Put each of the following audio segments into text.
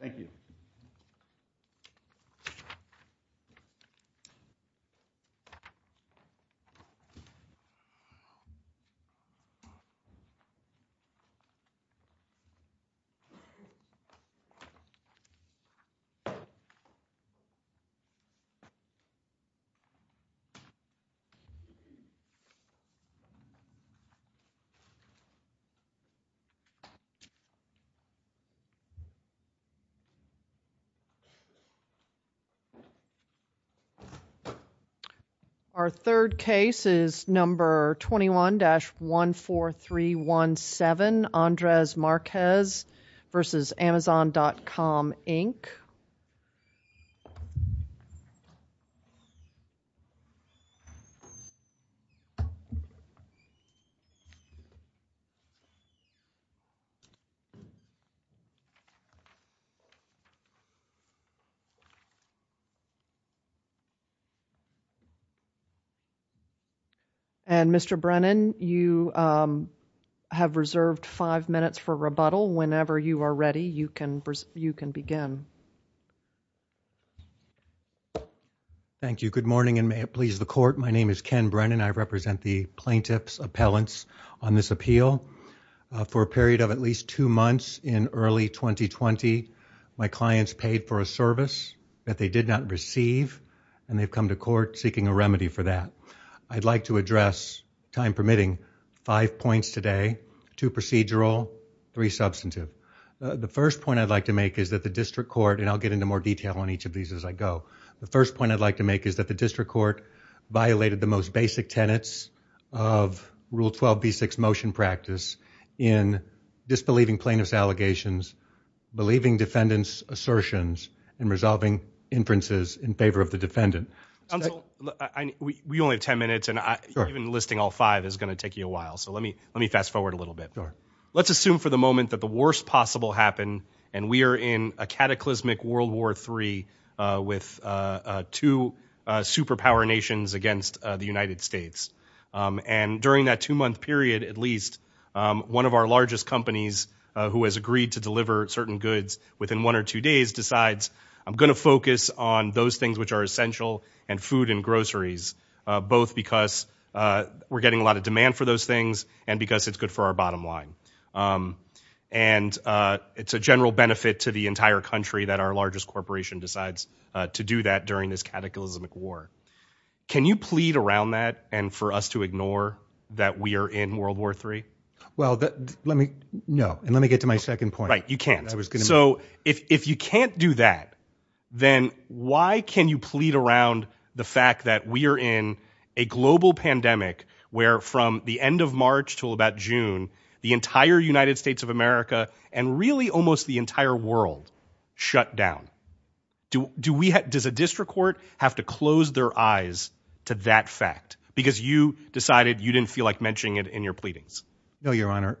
Thank you. Our third case is number 21-14317, Andrez Marquez v. Amazon.com, Inc. And Mr. Brennan, you have reserved five minutes for rebuttal. Whenever you are ready, you can begin. Thank you. Good morning and may it please the Court. My name is Ken Brennan. I represent the plaintiff's appellants on this appeal. For a period of at least two months in early 2020, my clients paid for a service that they did not receive, and they've come to court seeking a remedy for that. I'd like to address, time permitting, five points today, two procedural, three substantive. The first point I'd like to make is that the district court, and I'll get into more detail on each of these as I go, the first point I'd like to make is that the district court violated the most basic tenets of Rule 12b6 motion practice in disbelieving plaintiff's allegations, believing defendant's assertions, and resolving inferences in favor of the defendant. Counsel, we only have ten minutes, and even listing all five is going to take you a while, so let me fast forward a little bit. Let's assume for the moment that the worst possible happened, and we are in a cataclysmic World War III with two superpower nations against the United States. And during that two-month period, at least, one of our largest companies, who has agreed to deliver certain goods within one or two days, decides, I'm going to focus on those things which are essential, and food and groceries, both because we're getting a lot of demand for those things, and because it's good for our bottom line. And it's a general benefit to the entire country that our largest corporation decides to do that during this cataclysmic war. Can you plead around that, and for us to ignore that we are in World War III? Well, let me, no, and let me get to my second point. Right, you can't. So if you can't do that, then why can you plead around the fact that we are in a global pandemic where from the end of March till about June, the entire United States of America, and really almost the entire world, shut down? Does a district court have to close their eyes to that fact? Because you decided you didn't feel like mentioning it in your pleadings. No, Your Honor.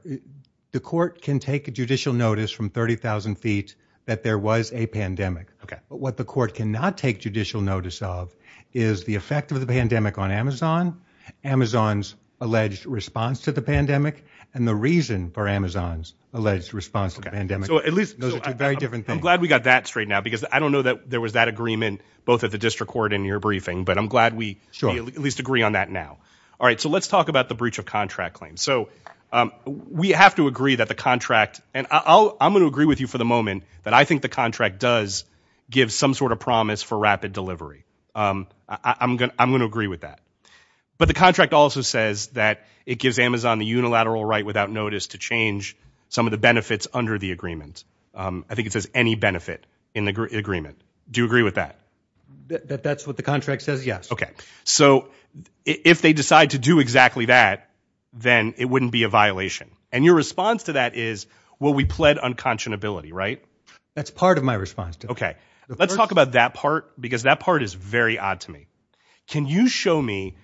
The court can take a judicial notice from 30,000 feet that there was a pandemic, but what the court cannot take judicial notice of is the effect of the pandemic on Amazon, Amazon's alleged response to the pandemic, and the reason for Amazon's alleged response to the pandemic. Those are two very different things. I'm glad we got that straight now, because I don't know that there was that agreement both at the district court and in your briefing, but I'm glad we at least agree on that now. All right, so let's talk about the breach of contract claim. So we have to agree that the contract, and I'm going to agree with you for the moment that I think the contract does give some sort of promise for rapid delivery. I'm going to agree with that. But the contract also says that it gives Amazon the unilateral right without notice to change some of the benefits under the agreement. I think it says any benefit in the agreement. Do you agree with that? That's what the contract says, yes. Okay, so if they decide to do exactly that, then it wouldn't be a violation. And your response to that is, well, we pled unconscionability, right? That's part of my response. Okay. Let's talk about that part, because that part is very odd to me. Can you show me,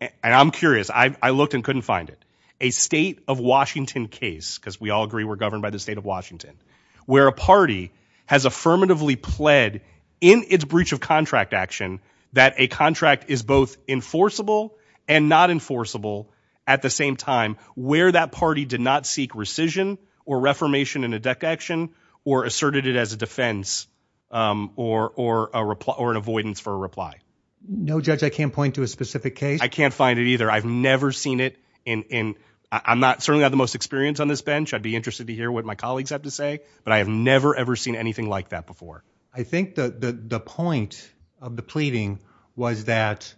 and I'm curious, I looked and couldn't find it, a state of Washington case, because we all agree we're governed by the state of Washington, where a party has affirmatively pled in its breach of contract action that a contract is both enforceable and not enforceable at the same time, where that party did not seek rescission or reformation in a DEC action or asserted it as a defense or an avoidance for a reply? No, Judge, I can't point to a specific case. I can't find it either. I've never seen it in, I'm not, certainly I have the most experience on this bench. I'd be interested to hear what my colleagues have to say, but I have never, ever seen anything like that before. I think the point of the pleading was that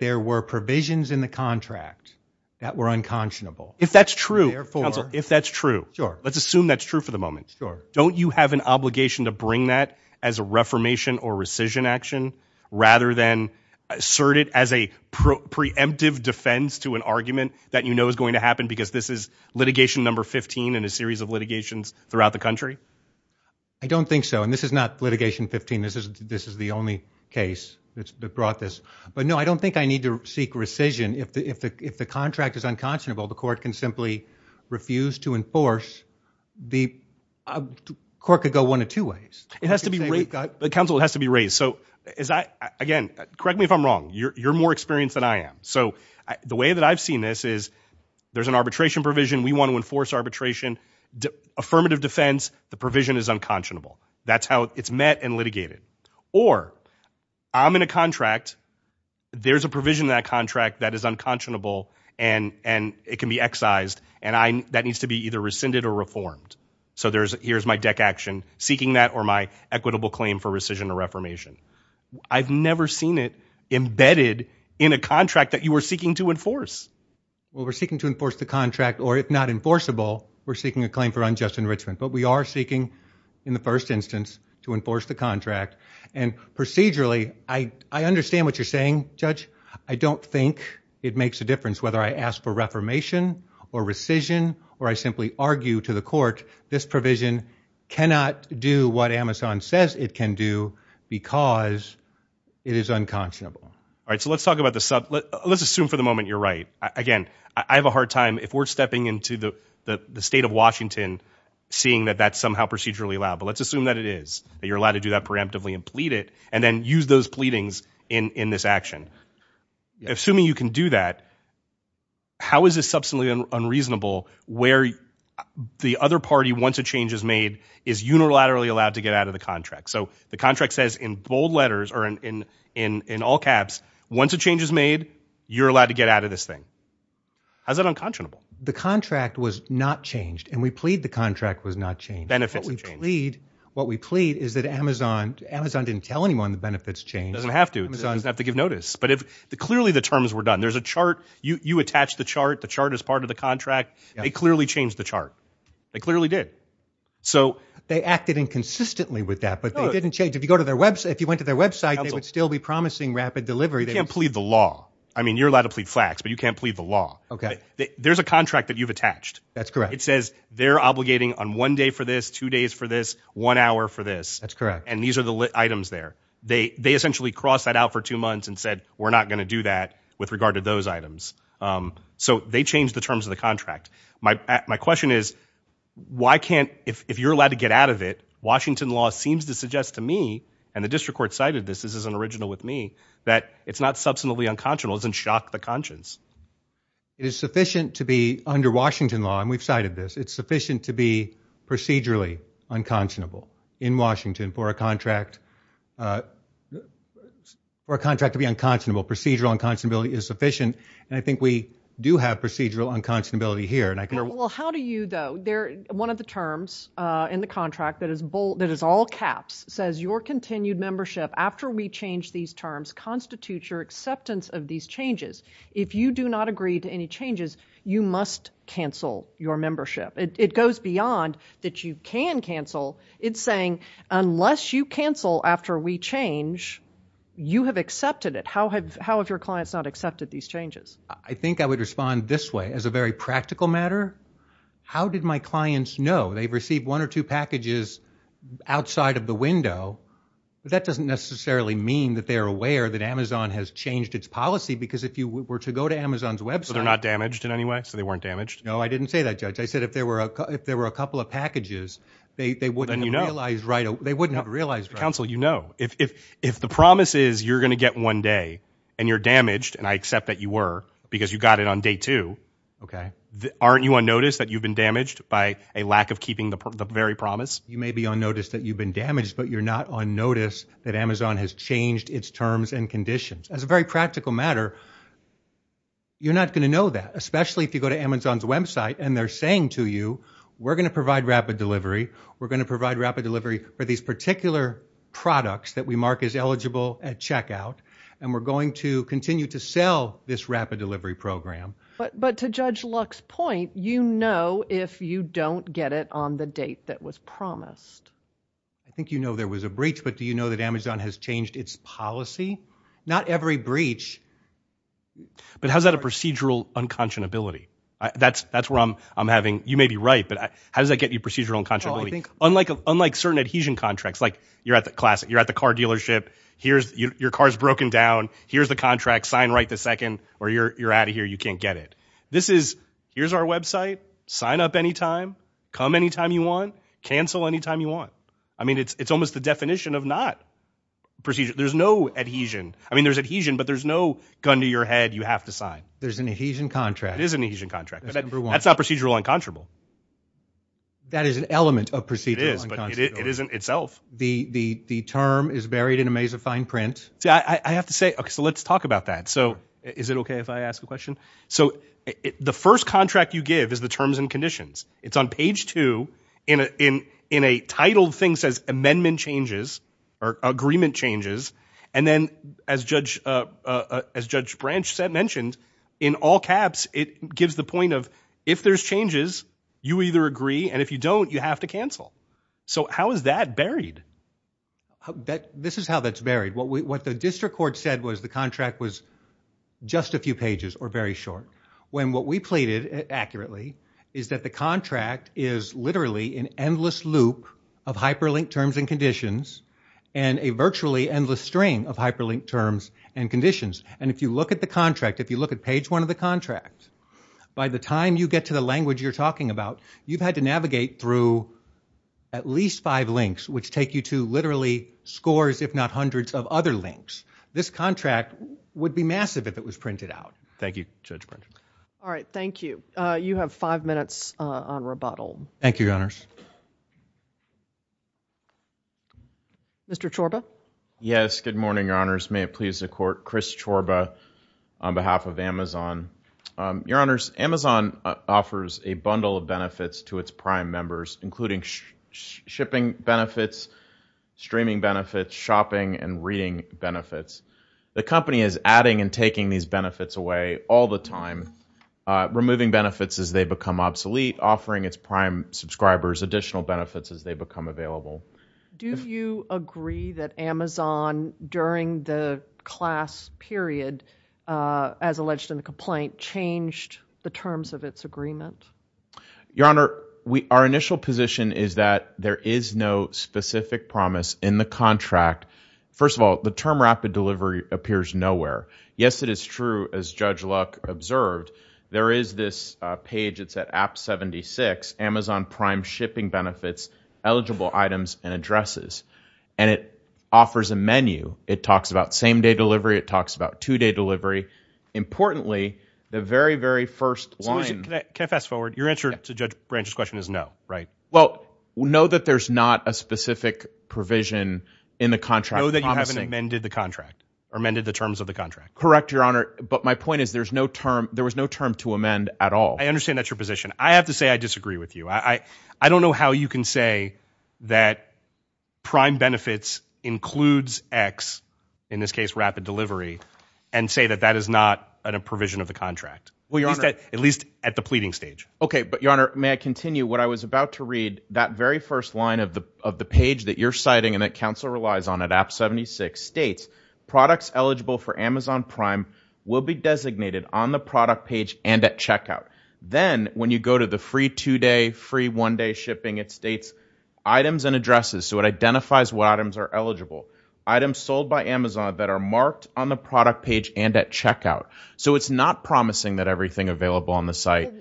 there were provisions in the contract that were unconscionable. If that's true, counsel, if that's true, let's assume that's true for the moment. Don't you have an obligation to bring that as a reformation or rescission action rather than assert it as a preemptive defense to an argument that you know is going to happen because this is litigation number 15 in a series of litigations throughout the country? I don't think so. And this is not litigation 15. This is the only case that brought this, but no, I don't think I need to seek rescission if the contract is unconscionable, the court can simply refuse to enforce. The court could go one of two ways. It has to be, counsel, it has to be raised. So is that, again, correct me if I'm wrong, you're more experienced than I am. So the way that I've seen this is there's an arbitration provision, we want to enforce arbitration, affirmative defense, the provision is unconscionable. That's how it's met and litigated. Or I'm in a contract, there's a provision in that contract that is unconscionable and it can be excised and that needs to be either rescinded or reformed. So here's my deck action, seeking that or my equitable claim for rescission or reformation. I've never seen it embedded in a contract that you were seeking to enforce. Well, we're seeking to enforce the contract or if not enforceable, we're seeking a claim for unjust enrichment, but we are seeking in the first instance to enforce the contract. And procedurally, I understand what you're saying, Judge. I don't think it makes a difference whether I ask for reformation or rescission or I simply argue to the court, this provision cannot do what Amazon says it can do because it is unconscionable. All right, so let's assume for the moment you're right. Again, I have a hard time, if we're stepping into the state of Washington, seeing that that's somehow procedurally allowed. But let's assume that it is, that you're allowed to do that preemptively and plead it, and then use those pleadings in this action. Assuming you can do that, how is this substantially unreasonable where the other party, once a change is made, is unilaterally allowed to get out of the contract? So the contract says in bold letters or in all caps, once a change is made, you're allowed to get out of this thing. How's that unconscionable? The contract was not changed, and we plead the contract was not changed. Benefits have changed. What we plead is that Amazon didn't tell anyone the benefits changed. It doesn't have to, it doesn't have to give notice. But if clearly the terms were done, there's a chart, you attach the chart, the chart is part of the contract, they clearly changed the chart. They clearly did. So- They acted inconsistently with that, but they didn't change. If you go to their website, if you went to their website, they would still be promising rapid delivery. You can't plead the law. I mean, you're allowed to plead flax, but you can't plead the law. Okay. There's a contract that you've attached. That's correct. It says, they're obligating on one day for this, two days for this, one hour for this. That's correct. And these are the items there. They essentially crossed that out for two months and said, we're not gonna do that with regard to those items. So they changed the terms of the contract. My question is, why can't, if you're allowed to get out of it, Washington law seems to suggest to me, and the district court cited this, this is an original with me, that it's not substantively unconscionable. It doesn't shock the conscience. It is sufficient to be under Washington law, and we've cited this, it's sufficient to be procedurally unconscionable in Washington for a contract, for a contract to be unconscionable. Procedural unconscionability is sufficient, and I think we do have procedural unconscionability here, and I can- Well, how do you though, one of the terms in the contract that is all caps, says your continued membership after we change these terms constitutes your acceptance of these changes. If you do not agree to any changes, you must cancel your membership. It goes beyond that you can cancel. It's saying, unless you cancel after we change, you have accepted it. How have your clients not accepted these changes? I think I would respond this way, as a very practical matter, how did my clients know? They've received one or two packages outside of the window, but that doesn't necessarily mean that they're aware that Amazon has changed its policy, because if you were to go to Amazon's website- So they're not damaged in any way? So they weren't damaged? No, I didn't say that, Judge. I said if there were a couple of packages, they wouldn't have realized right away. They wouldn't have realized right away. Counsel, you know, if the promise is you're going to get one day, and you're damaged, and I accept that you were, because you got it on day two. Okay. Aren't you on notice that you've been damaged by a lack of keeping the very promise? You may be on notice that you've been damaged, but you're not on notice that Amazon has changed its terms and conditions. As a very practical matter, you're not going to know that, especially if you go to Amazon's website and they're saying to you, we're going to provide rapid delivery. We're going to provide rapid delivery for these particular products that we mark as eligible at checkout. And we're going to continue to sell this rapid delivery program. But to Judge Luck's point, you know if you don't get it on the date that was promised. I think you know there was a breach, but do you know that Amazon has changed its policy? Not every breach. But how's that a procedural unconscionability? That's where I'm having, you may be right, but how does that get you procedural unconscionability? Unlike certain adhesion contracts, like you're at the car dealership, your car's broken down, here's the contract, sign right this second, or you're out of here, you can't get it. This is, here's our website, sign up anytime, come anytime you want, cancel anytime you want. I mean, it's almost the definition of not procedural. There's no adhesion. I mean, there's adhesion, but there's no gun to your head, you have to sign. There's an adhesion contract. There is an adhesion contract, but that's not procedural unconscionable. That is an element of procedural unconscionable. It is, but it isn't itself. The term is buried in a maze of fine print. See, I have to say, okay, so let's talk about that. So, is it okay if I ask a question? So, the first contract you give is the terms and conditions. It's on page two, in a titled thing says amendment changes, or agreement changes. And then, as Judge Branch mentioned, in all caps, it gives the point of, if there's changes, you either agree, and if you don't, you have to cancel. So, how is that buried? This is how that's buried. What the district court said was the contract was just a few pages, or very short, when what we pleaded, accurately, is that the contract is literally an endless loop of hyperlinked terms and conditions. And a virtually endless string of hyperlinked terms and conditions. And if you look at the contract, if you look at page one of the contract, by the time you get to the language you're talking about, you've had to navigate through at least five links, which take you to literally scores, if not hundreds, of other links. This contract would be massive if it was printed out. Thank you, Judge Branch. All right, thank you. You have five minutes on rebuttal. Thank you, Your Honors. Mr. Chorba? Yes, good morning, Your Honors. May it please the court, Chris Chorba, on behalf of Amazon. Your Honors, Amazon offers a bundle of benefits to its prime members, including shipping benefits, streaming benefits, shopping, and reading benefits. The company is adding and taking these benefits away all the time. Removing benefits as they become obsolete, offering its prime subscribers additional benefits as they become available. Do you agree that Amazon, during the class period, as alleged in the complaint, changed the terms of its agreement? Your Honor, our initial position is that there is no specific promise in the contract. First of all, the term rapid delivery appears nowhere. Yes, it is true, as Judge Luck observed. There is this page, it's at app 76, Amazon Prime Shipping Benefits, Eligible Items and Addresses, and it offers a menu. It talks about same-day delivery, it talks about two-day delivery. Importantly, the very, very first line- Excuse me, can I fast forward? Your answer to Judge Branch's question is no, right? Well, know that there's not a specific provision in the contract promising- Know that you haven't amended the contract, amended the terms of the contract. Correct, Your Honor, but my point is there was no term to amend at all. I understand that's your position. I have to say I disagree with you. I don't know how you can say that Prime Benefits includes X, in this case rapid delivery, and say that that is not a provision of the contract. Well, Your Honor- At least at the pleading stage. Okay, but Your Honor, may I continue? What I was about to read, that very first line of the page that you're citing and that counsel relies on at app 76 states, products eligible for Amazon Prime will be designated on the product page and at checkout. Then, when you go to the free two-day, free one-day shipping, it states items and addresses, so it identifies what items are eligible. Items sold by Amazon that are marked on the product page and at checkout. So it's not promising that everything available on the site-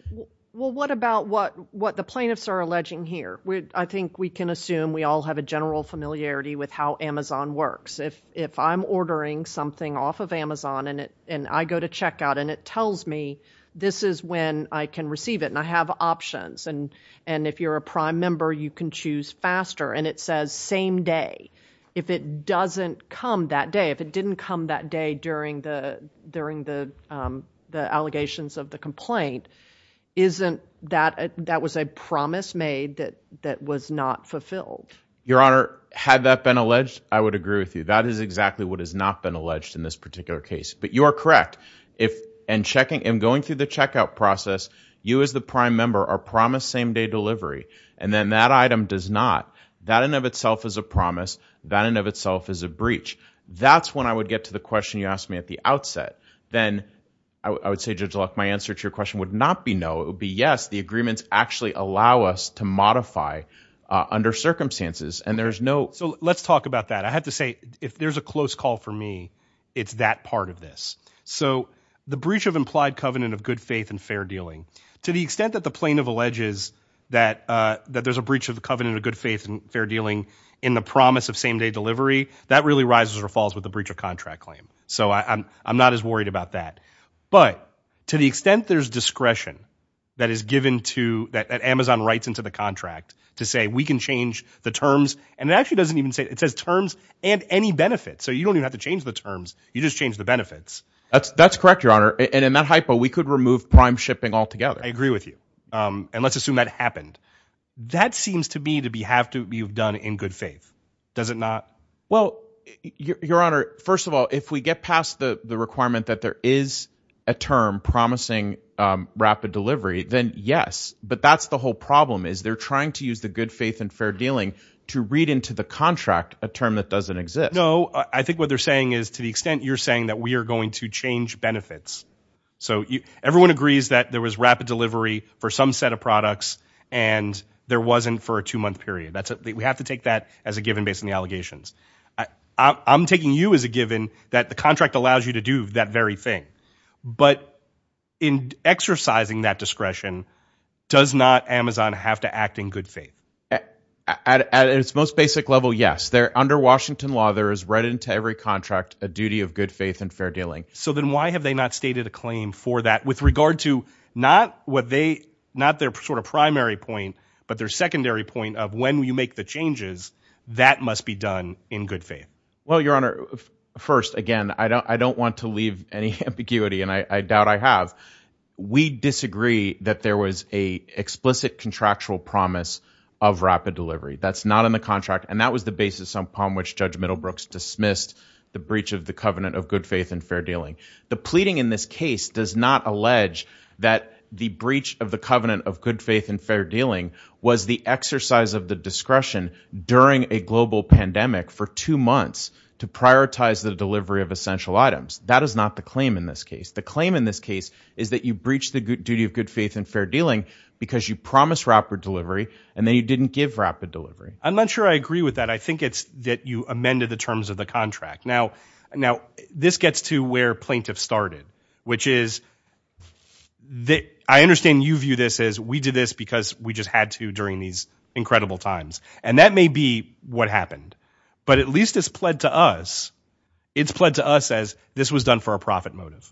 Well, what about what the plaintiffs are alleging here? I think we can assume we all have a general familiarity with how Amazon works. If I'm ordering something off of Amazon and I go to checkout and it tells me this is when I can receive it and I have options. And if you're a Prime member, you can choose faster and it says same day. If it doesn't come that day, if it didn't come that day during the allegations of the complaint, isn't that, that was a promise made that was not fulfilled? Your Honor, had that been alleged, I would agree with you. That is exactly what has not been alleged in this particular case. But you are correct, in going through the checkout process, you as the Prime member are promised same day delivery. And then that item does not. That in and of itself is a promise. That in and of itself is a breach. That's when I would get to the question you asked me at the outset. Then I would say, Judge Luck, my answer to your question would not be no. It would be yes, the agreements actually allow us to modify under circumstances. And there's no- So let's talk about that. I have to say, if there's a close call for me, it's that part of this. So the breach of implied covenant of good faith and fair dealing. To the extent that the plaintiff alleges that there's a breach of the covenant of good faith and fair dealing in the promise of same day delivery, that really rises or falls with the breach of contract claim. So I'm not as worried about that. But to the extent there's discretion that is given to, that Amazon writes into the contract to say we can change the terms. And it actually doesn't even say, it says terms and any benefits. So you don't even have to change the terms. You just change the benefits. That's correct, Your Honor. And in that hypo, we could remove prime shipping altogether. I agree with you. And let's assume that happened. That seems to me to have to be done in good faith. Does it not? Well, Your Honor, first of all, if we get past the requirement that there is a term promising rapid delivery, then yes. But that's the whole problem is they're trying to use the good faith and read into the contract a term that doesn't exist. No, I think what they're saying is, to the extent you're saying that we are going to change benefits. So everyone agrees that there was rapid delivery for some set of products, and there wasn't for a two month period. We have to take that as a given based on the allegations. I'm taking you as a given that the contract allows you to do that very thing. But in exercising that discretion, does not Amazon have to act in good faith? At its most basic level, yes. They're under Washington law, there is read into every contract, a duty of good faith and fair dealing. So then why have they not stated a claim for that with regard to not what they, not their sort of primary point, but their secondary point of when you make the changes, that must be done in good faith. Well, Your Honor, first again, I don't want to leave any ambiguity and I doubt I have. We disagree that there was a explicit contractual promise of rapid delivery. That's not in the contract. And that was the basis upon which Judge Middlebrooks dismissed the breach of the covenant of good faith and fair dealing. The pleading in this case does not allege that the breach of the covenant of good faith and fair dealing was the exercise of the discretion during a global pandemic for two months to prioritize the delivery of essential items. That is not the claim in this case. The claim in this case is that you breached the duty of good faith and fair dealing because you promised rapid delivery, and then you didn't give rapid delivery. I'm not sure I agree with that. I think it's that you amended the terms of the contract. Now, this gets to where plaintiffs started, which is, I understand you view this as we did this because we just had to during these incredible times. And that may be what happened. But at least it's pled to us. This was done for a profit motive.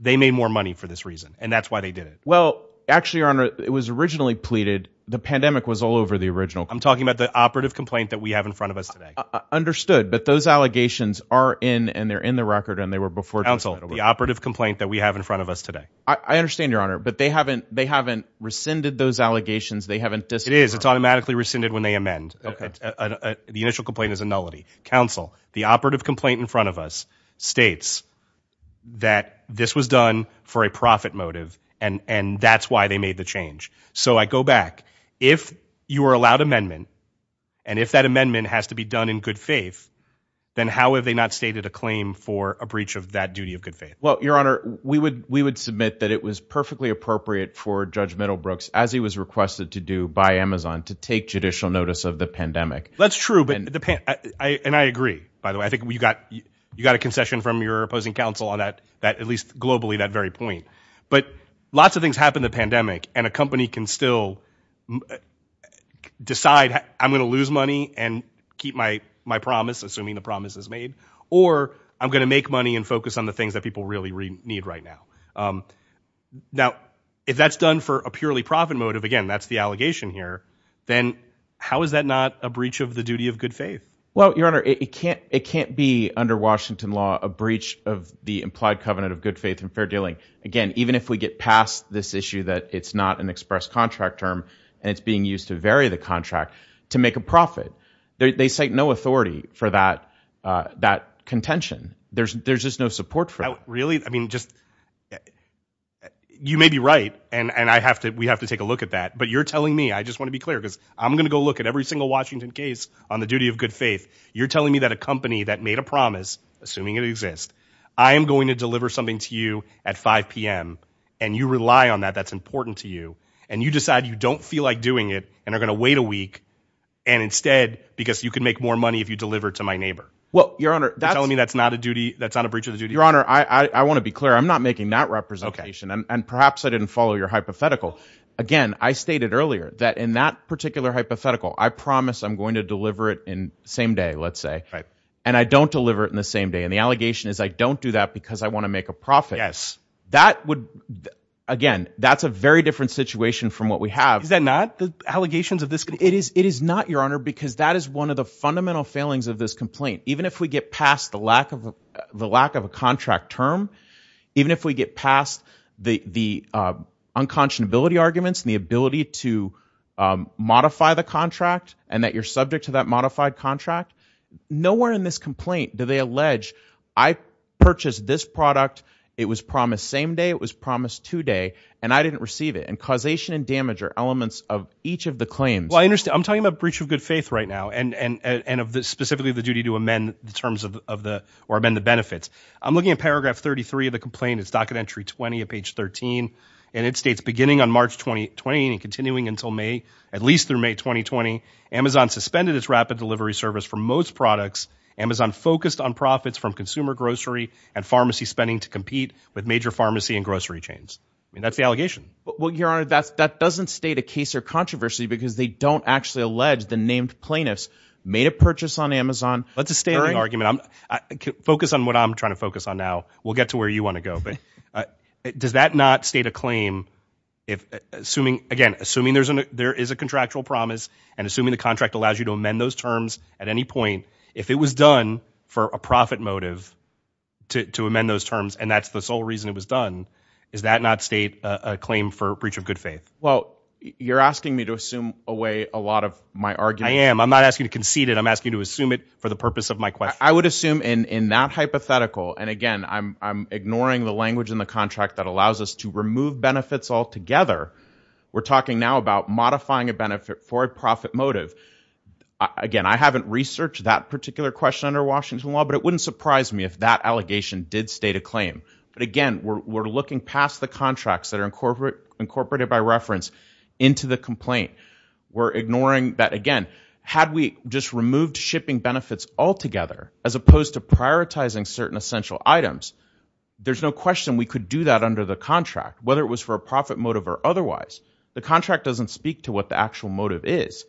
They made more money for this reason, and that's why they did it. Well, actually, Your Honor, it was originally pleaded. The pandemic was all over the original. I'm talking about the operative complaint that we have in front of us today. Understood, but those allegations are in, and they're in the record, and they were before- Counsel, the operative complaint that we have in front of us today. I understand, Your Honor, but they haven't rescinded those allegations. They haven't dismissed- It is. It's automatically rescinded when they amend. Okay. The initial complaint is a nullity. Counsel, the operative complaint in front of us states that this was done for a profit motive, and that's why they made the change. So I go back. If you are allowed amendment, and if that amendment has to be done in good faith, then how have they not stated a claim for a breach of that duty of good faith? Well, Your Honor, we would submit that it was perfectly appropriate for Judge Middlebrooks, as he was requested to do by Amazon, to take judicial notice of the pandemic. That's true, and I agree, by the way. I think you got a concession from your opposing counsel on that, at least globally, that very point. But lots of things happen in the pandemic, and a company can still decide, I'm gonna lose money and keep my promise, assuming the promise is made, or I'm gonna make money and focus on the things that people really need right now. Now, if that's done for a purely profit motive, again, that's the allegation here, then how is that not a breach of the duty of good faith? Well, Your Honor, it can't be, under Washington law, a breach of the implied covenant of good faith and fair dealing. Again, even if we get past this issue that it's not an express contract term, and it's being used to vary the contract, to make a profit. They cite no authority for that contention. There's just no support for it. Really? I mean, you may be right, and we have to take a look at that. But you're telling me, I just want to be clear because I'm gonna go look at every single Washington case on the duty of good faith. You're telling me that a company that made a promise, assuming it exists, I am going to deliver something to you at 5 PM. And you rely on that, that's important to you. And you decide you don't feel like doing it, and are gonna wait a week. And instead, because you can make more money if you deliver it to my neighbor. Well, Your Honor, that's- You're telling me that's not a duty, that's not a breach of the duty? Your Honor, I want to be clear, I'm not making that representation. And perhaps I didn't follow your hypothetical. Again, I stated earlier that in that particular hypothetical, I promise I'm going to deliver it in the same day, let's say. Right. And I don't deliver it in the same day. And the allegation is I don't do that because I want to make a profit. Yes. That would, again, that's a very different situation from what we have. Is that not the allegations of this? It is not, Your Honor, because that is one of the fundamental failings of this complaint. Even if we get past the lack of a contract term, even if we get past the unconscionability arguments and the ability to modify the contract and that you're subject to that modified contract, nowhere in this complaint do they allege, I purchased this product, it was promised same day, it was promised two day, and I didn't receive it. And causation and damage are elements of each of the claims. Well, I understand. I'm talking about breach of good faith right now and of specifically the duty to amend the terms of the, or amend the benefits. I'm looking at paragraph 33 of the complaint. It's docket entry 20 of page 13, and it states, beginning on March 2020 and continuing until May, at least through May 2020, Amazon suspended its rapid delivery service for most products. Amazon focused on profits from consumer grocery and pharmacy spending to compete with major pharmacy and grocery chains. I mean, that's the allegation. Well, Your Honor, that doesn't state a case or controversy because they don't actually allege the named plaintiffs made a purchase on Amazon. That's a standing argument. Focus on what I'm trying to focus on now. We'll get to where you want to go, but does that not state a claim if assuming, again, assuming there is a contractual promise and assuming the contract allows you to amend those terms at any point. If it was done for a profit motive to amend those terms, and that's the sole reason it was done, is that not state a claim for breach of good faith? Well, you're asking me to assume away a lot of my argument. I am. I'm not asking you to concede it. I'm asking you to assume it for the purpose of my question. I would assume in that hypothetical, and again, I'm ignoring the language in the contract that allows us to remove benefits altogether. We're talking now about modifying a benefit for a profit motive. Again, I haven't researched that particular question under Washington law, but it wouldn't surprise me if that allegation did state a claim. But again, we're looking past the contracts that are incorporated by reference into the complaint. We're ignoring that, again, had we just removed shipping benefits altogether, as opposed to prioritizing certain essential items, there's no question we could do that under the contract, whether it was for a profit motive or otherwise. The contract doesn't speak to what the actual motive is.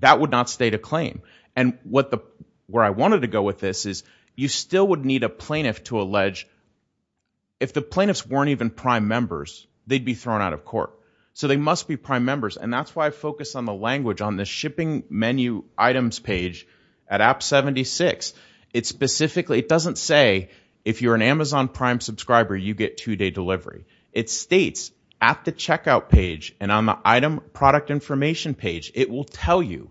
That would not state a claim. And where I wanted to go with this is, you still would need a plaintiff to allege, if the plaintiffs weren't even prime members, they'd be thrown out of court. So they must be prime members. And that's why I focus on the language on the shipping menu items page at app 76. It specifically, it doesn't say, if you're an Amazon Prime subscriber, you get two day delivery. It states at the checkout page and on the item product information page, it will tell you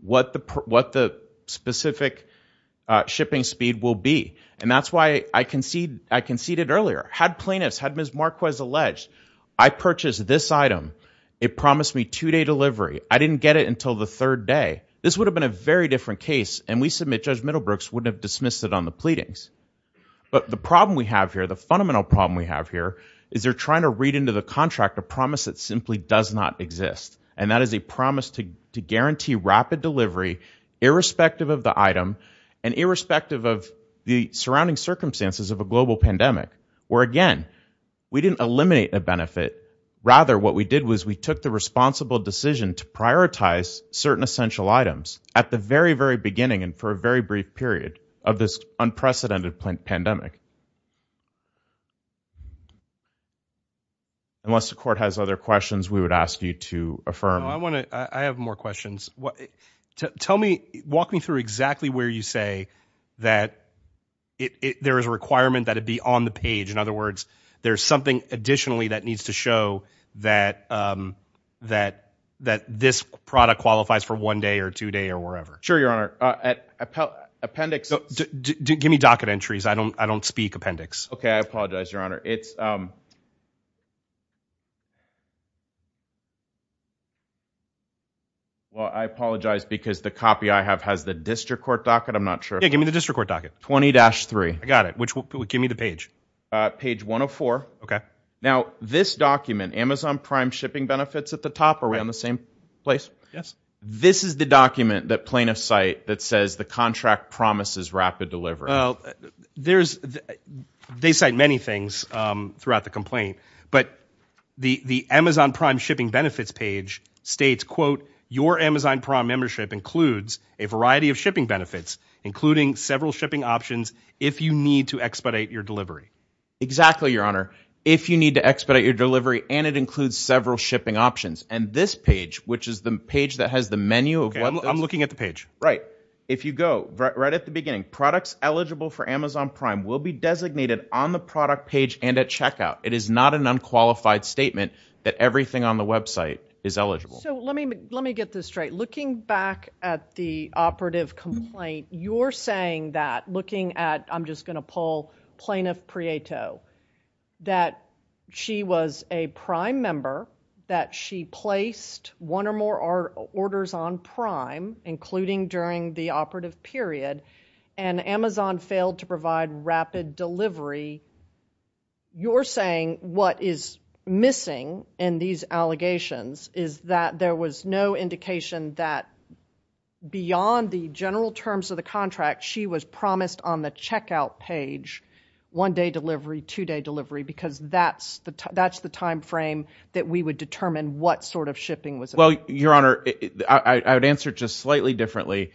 what the specific shipping speed will be. And that's why I conceded earlier, had plaintiffs, had Ms. Marquez allege, I purchased this item, it promised me two day delivery. I didn't get it until the third day. This would have been a very different case, and we submit Judge Middlebrooks would have dismissed it on the pleadings. But the problem we have here, the fundamental problem we have here, is they're trying to read into the contract a promise that simply does not exist. And that is a promise to guarantee rapid delivery, irrespective of the item, and irrespective of the surrounding circumstances of a global pandemic. Where again, we didn't eliminate a benefit. Rather, what we did was we took the responsible decision to prioritize certain essential items at the very, very beginning, and for a very brief period of this unprecedented pandemic. Unless the court has other questions, we would ask you to affirm. I have more questions. Walk me through exactly where you say that there is a requirement that it be on the page. In other words, there's something additionally that needs to show that this product qualifies for one day or two day or wherever. Sure, Your Honor. Appendix. Give me docket entries. I don't speak appendix. Okay, I apologize, Your Honor. It's Well, I apologize because the copy I have has the district court docket. I'm not sure. Give me the district court docket. 20-3. I got it. Give me the page. Page 104. Okay. Now, this document, Amazon Prime Shipping Benefits at the top, are we on the same place? Yes. This is the document that plaintiffs cite that says the contract promises rapid delivery. Well, they cite many things throughout the complaint. But the Amazon Prime Shipping Benefits page states, quote, your Amazon Prime membership includes a variety of shipping benefits, including several shipping options if you need to expedite your delivery. Exactly, Your Honor. If you need to expedite your delivery, and it includes several shipping options. And this page, which is the page that has the menu of what those- Okay, I'm looking at the page. Right. If you go right at the beginning, products eligible for Amazon Prime will be designated on the product page and at checkout. It is not an unqualified statement that everything on the website is eligible. So let me get this straight. Looking back at the operative complaint, you're saying that, looking at, I'm just gonna pull Plaintiff Prieto, that she was a Prime member. That she placed one or more orders on Prime, including during the operative period, and Amazon failed to provide rapid delivery. You're saying what is missing in these allegations is that there was no indication that beyond the general terms of the contract, she was promised on the checkout page one day delivery, two day delivery. Because that's the time frame that we would determine what sort of shipping was- Well, Your Honor, I would answer just slightly differently.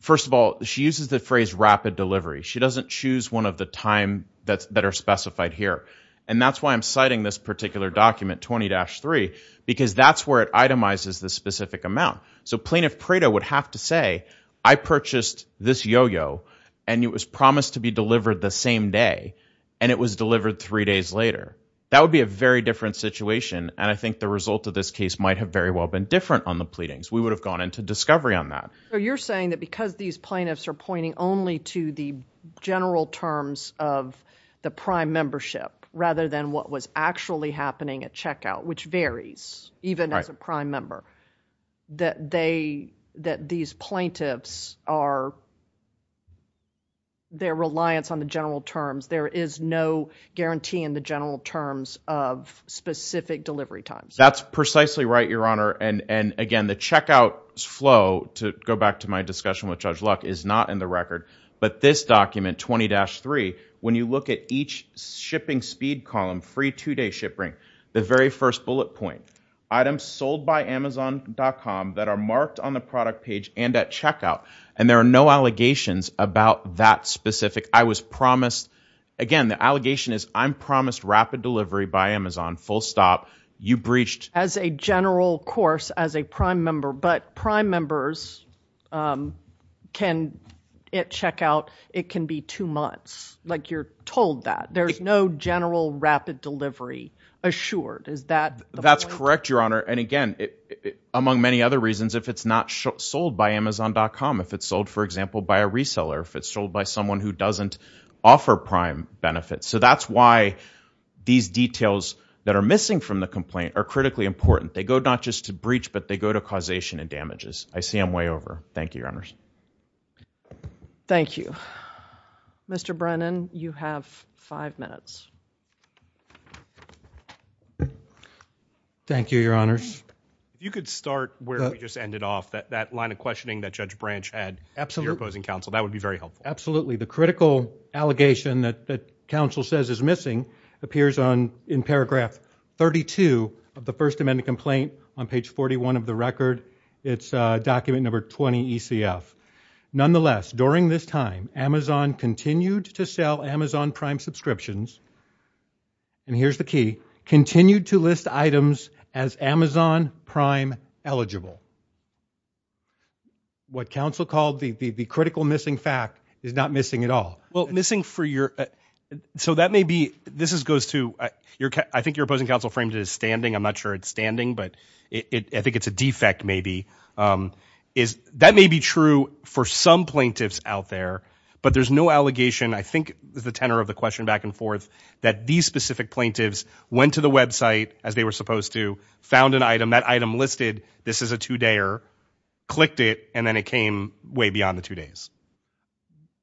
First of all, she uses the phrase rapid delivery. She doesn't choose one of the time that are specified here. And that's why I'm citing this particular document 20-3, because that's where it itemizes the specific amount. So Plaintiff Prieto would have to say, I purchased this yo-yo, and it was promised to be delivered the same day, and it was delivered three days later. That would be a very different situation, and I think the result of this case might have very well been different on the pleadings. We would have gone into discovery on that. You're saying that because these plaintiffs are pointing only to the general terms of the prime membership, rather than what was actually happening at checkout, which varies, even as a prime member, that these plaintiffs are, their reliance on the general terms. There is no guarantee in the general terms of specific delivery times. That's precisely right, Your Honor, and again, the checkout flow, to go back to my discussion with Judge Luck, is not in the record. But this document, 20-3, when you look at each shipping speed column, free two-day shipping, the very first bullet point, items sold by amazon.com that are marked on the product page and at checkout, and there are no allegations about that specific, I was promised. Again, the allegation is I'm promised rapid delivery by Amazon, full stop. You breached- Members can, at checkout, it can be two months, like you're told that. There's no general rapid delivery assured, is that the point? That's correct, Your Honor, and again, among many other reasons, if it's not sold by amazon.com, if it's sold, for example, by a reseller, if it's sold by someone who doesn't offer prime benefits. So that's why these details that are missing from the complaint are critically important. They go not just to breach, but they go to causation and damages. I see I'm way over. Thank you, Your Honors. Thank you. Mr. Brennan, you have five minutes. Thank you, Your Honors. You could start where we just ended off, that line of questioning that Judge Branch had to your opposing counsel, that would be very helpful. Absolutely, the critical allegation that counsel says is missing appears in paragraph 32 of the First Amendment complaint on page 41 of the record. It's document number 20 ECF. Nonetheless, during this time, Amazon continued to sell Amazon Prime subscriptions, and here's the key, continued to list items as Amazon Prime eligible. What counsel called the critical missing fact is not missing at all. Well, missing for your, so that may be, this is goes to your, I think your opposing counsel framed it as standing. I'm not sure it's standing, but I think it's a defect maybe. That may be true for some plaintiffs out there, but there's no allegation, I think, is the tenor of the question back and forth, that these specific plaintiffs went to the website, as they were supposed to, found an item, that item listed, this is a two-dayer, clicked it, and then it came way beyond the two days.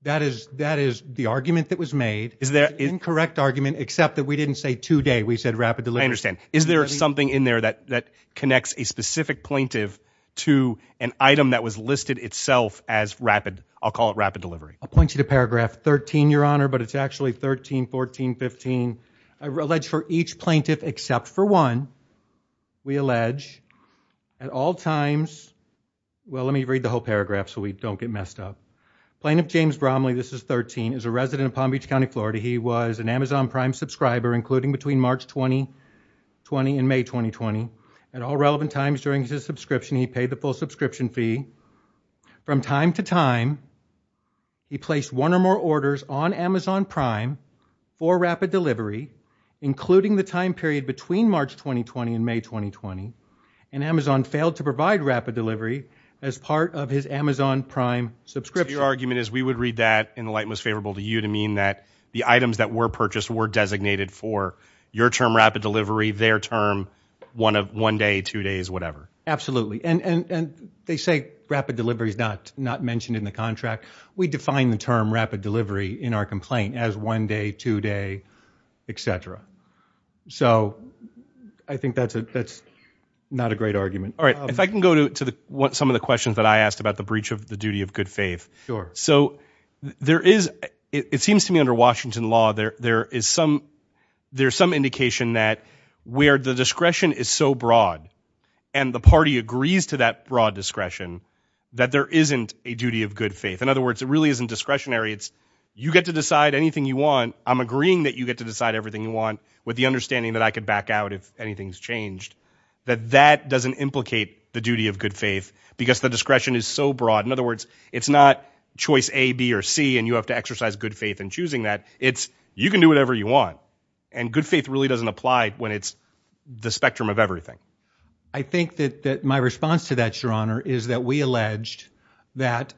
That is, that is the argument that was made. Is there... Incorrect argument, except that we didn't say two-day, we said rapid delivery. I understand. Is there something in there that connects a specific plaintiff to an item that was listed itself as rapid, I'll call it rapid delivery? I'll point you to paragraph 13, Your Honor, but it's actually 13, 14, 15. I would allege for each plaintiff, except for one, we allege, at all times, well, let me read the whole paragraph so we don't get messed up. Plaintiff James Bromley, this is 13, is a resident of Palm Beach County, Florida. He was an Amazon Prime subscriber, including between March 2020 and May 2020. At all relevant times during his subscription, he paid the full subscription fee. From time to time, he placed one or more orders on Amazon Prime for rapid delivery, including the time period between March 2020 and May 2020, and Amazon failed to provide rapid delivery as part of his Amazon Prime subscription. So your argument is we would read that in the light most favorable to you to mean that the items that were purchased were designated for your term rapid delivery, their term, one day, two days, whatever. Absolutely. And they say rapid delivery is not mentioned in the contract. We define the term rapid delivery in our complaint as one day, two day, et cetera. So I think that's not a great argument. All right, if I can go to some of the questions that I asked about the breach of the duty of good faith. So there is, it seems to me under Washington law, there is some indication that where the discretion is so broad and the party agrees to that broad discretion, that there isn't a duty of good faith. In other words, it really isn't discretionary. It's you get to decide anything you want. I'm agreeing that you get to decide everything you want with the understanding that I could back out if anything's changed, that that doesn't implicate the duty of good faith because the discretion is so broad. In other words, it's not choice A, B, or C, and you have to exercise good faith in choosing that. It's you can do whatever you want. And good faith really doesn't apply when it's the spectrum of everything. I think that my response to that, Your Honor, is that we alleged that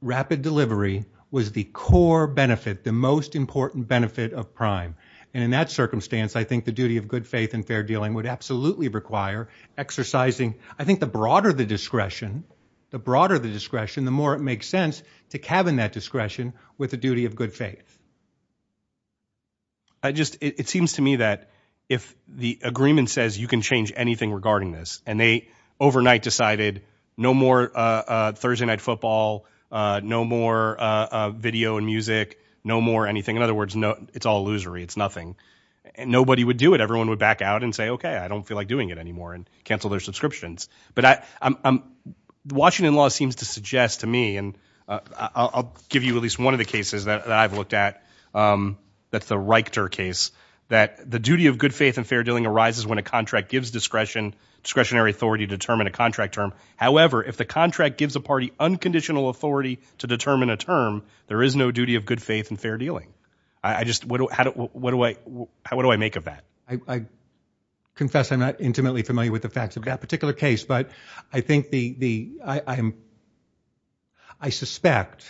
rapid delivery was the core benefit, the most important benefit of prime. And in that circumstance, I think the duty of good faith and fair dealing would absolutely require exercising, I think the broader the discretion, the broader the discretion, the more it makes sense to cabin that discretion with the duty of good faith. I just, it seems to me that if the agreement says you can change anything regarding this, and they overnight decided no more Thursday night football, no more video and music, no more anything, in other words, it's all illusory, it's nothing, and nobody would do it. Everyone would back out and say, okay, I don't feel like doing it anymore, and cancel their subscriptions. But Washington law seems to suggest to me, and I'll give you at least one of the cases that I've looked at, that's the Reichter case, that the duty of good faith and fair dealing arises when a contract gives discretionary authority to determine a contract term. However, if the contract gives a party unconditional authority to determine a term, there is no duty of good faith and fair dealing. I just, what do I make of that? I confess I'm not intimately familiar with the facts of that particular case, but I think the, I suspect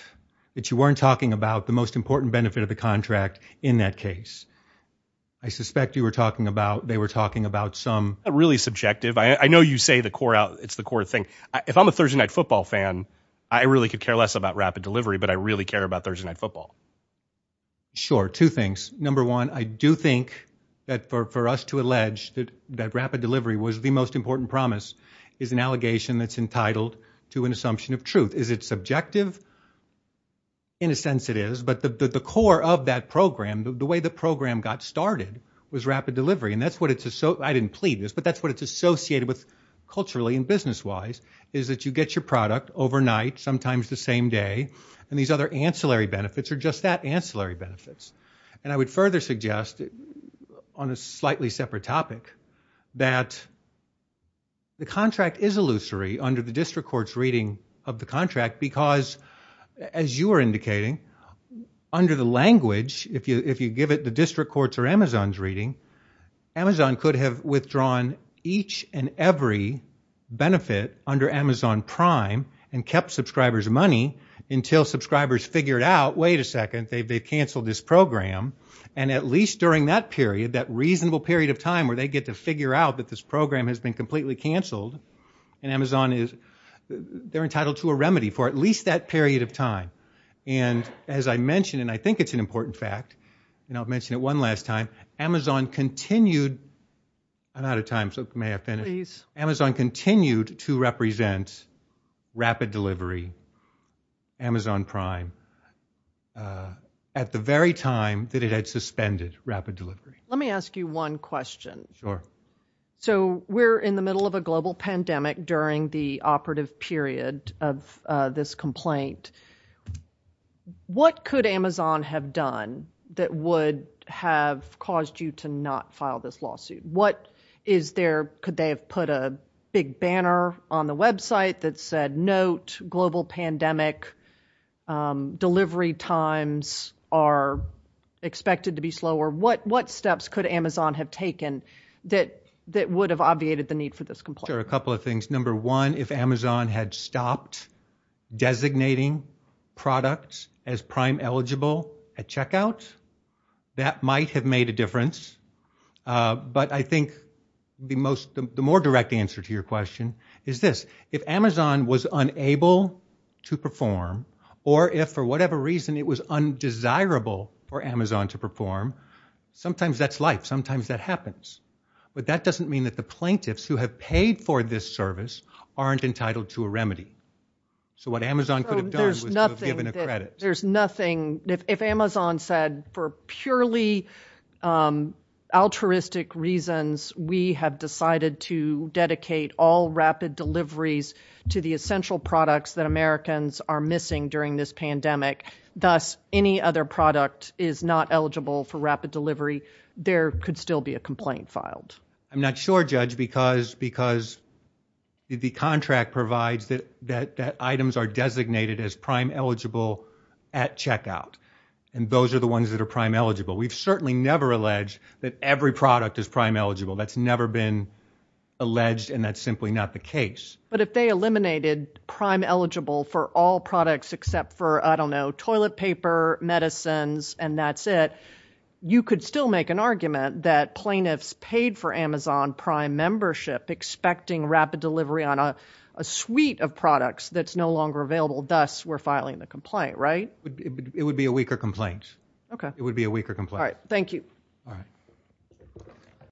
that you weren't talking about the most important benefit of the contract in that case. I suspect you were talking about, they were talking about some. Not really subjective. I know you say the core, it's the core thing. If I'm a Thursday night football fan, I really could care less about rapid delivery, but I really care about Thursday night football. Sure, two things. Number one, I do think that for us to allege that rapid delivery was the most important promise is an allegation that's entitled to an assumption of truth. Is it subjective? In a sense it is, but the core of that program, the way the program got started was rapid delivery. And that's what it's, I didn't plead this, but that's what it's associated with culturally and business-wise is that you get your product overnight, sometimes the same day, and these other ancillary benefits are just that, ancillary benefits. And I would further suggest on a slightly separate topic that the contract is illusory under the district court's reading of the contract because as you were indicating, under the language, if you give it the district court's or Amazon's reading, Amazon could have withdrawn each and every benefit under Amazon Prime and kept subscribers money until subscribers figured out, wait a second, they've canceled this program. And at least during that period, that reasonable period of time where they get to figure out that this program has been completely canceled and Amazon is, they're entitled to a remedy for at least that period of time. And as I mentioned, and I think it's an important fact, and I'll mention it one last time, Amazon continued, I'm out of time, so may I finish? Amazon continued to represent rapid delivery, Amazon Prime, at the very time that it had suspended rapid delivery. Let me ask you one question. Sure. So we're in the middle of a global pandemic during the operative period of this complaint. What could Amazon have done that would have caused you to not file this lawsuit? What is there, could they have put a big banner on the website that said, note, global pandemic, delivery times are expected to be slower? What steps could Amazon have taken that would have obviated the need for this complaint? Sure, a couple of things. Number one, if Amazon had stopped designating products as Prime eligible at checkout, that might have made a difference. But I think the more direct answer to your question is this, if Amazon was unable to perform, or if for whatever reason it was undesirable for Amazon to perform, sometimes that's life, sometimes that happens. But that doesn't mean that the plaintiffs who have paid for this service aren't entitled to a remedy. So what Amazon could have done was to have given a credit. There's nothing, if Amazon said, for purely altruistic reasons, we have decided to dedicate all rapid deliveries to the essential products that Americans are missing during this pandemic, thus any other product is not eligible for rapid delivery, there could still be a complaint filed. I'm not sure, Judge, because the contract provides that items are designated as Prime eligible at checkout. And those are the ones that are Prime eligible. We've certainly never alleged that every product is Prime eligible. That's never been alleged, and that's simply not the case. But if they eliminated Prime eligible for all products except for, I don't know, toilet paper, medicines, and that's it, you could still make an argument that plaintiffs paid for Amazon Prime membership expecting rapid delivery on a suite of products that's no longer available, thus we're filing the complaint, right? It would be a weaker complaint. Okay. It would be a weaker complaint. All right, thank you. All right.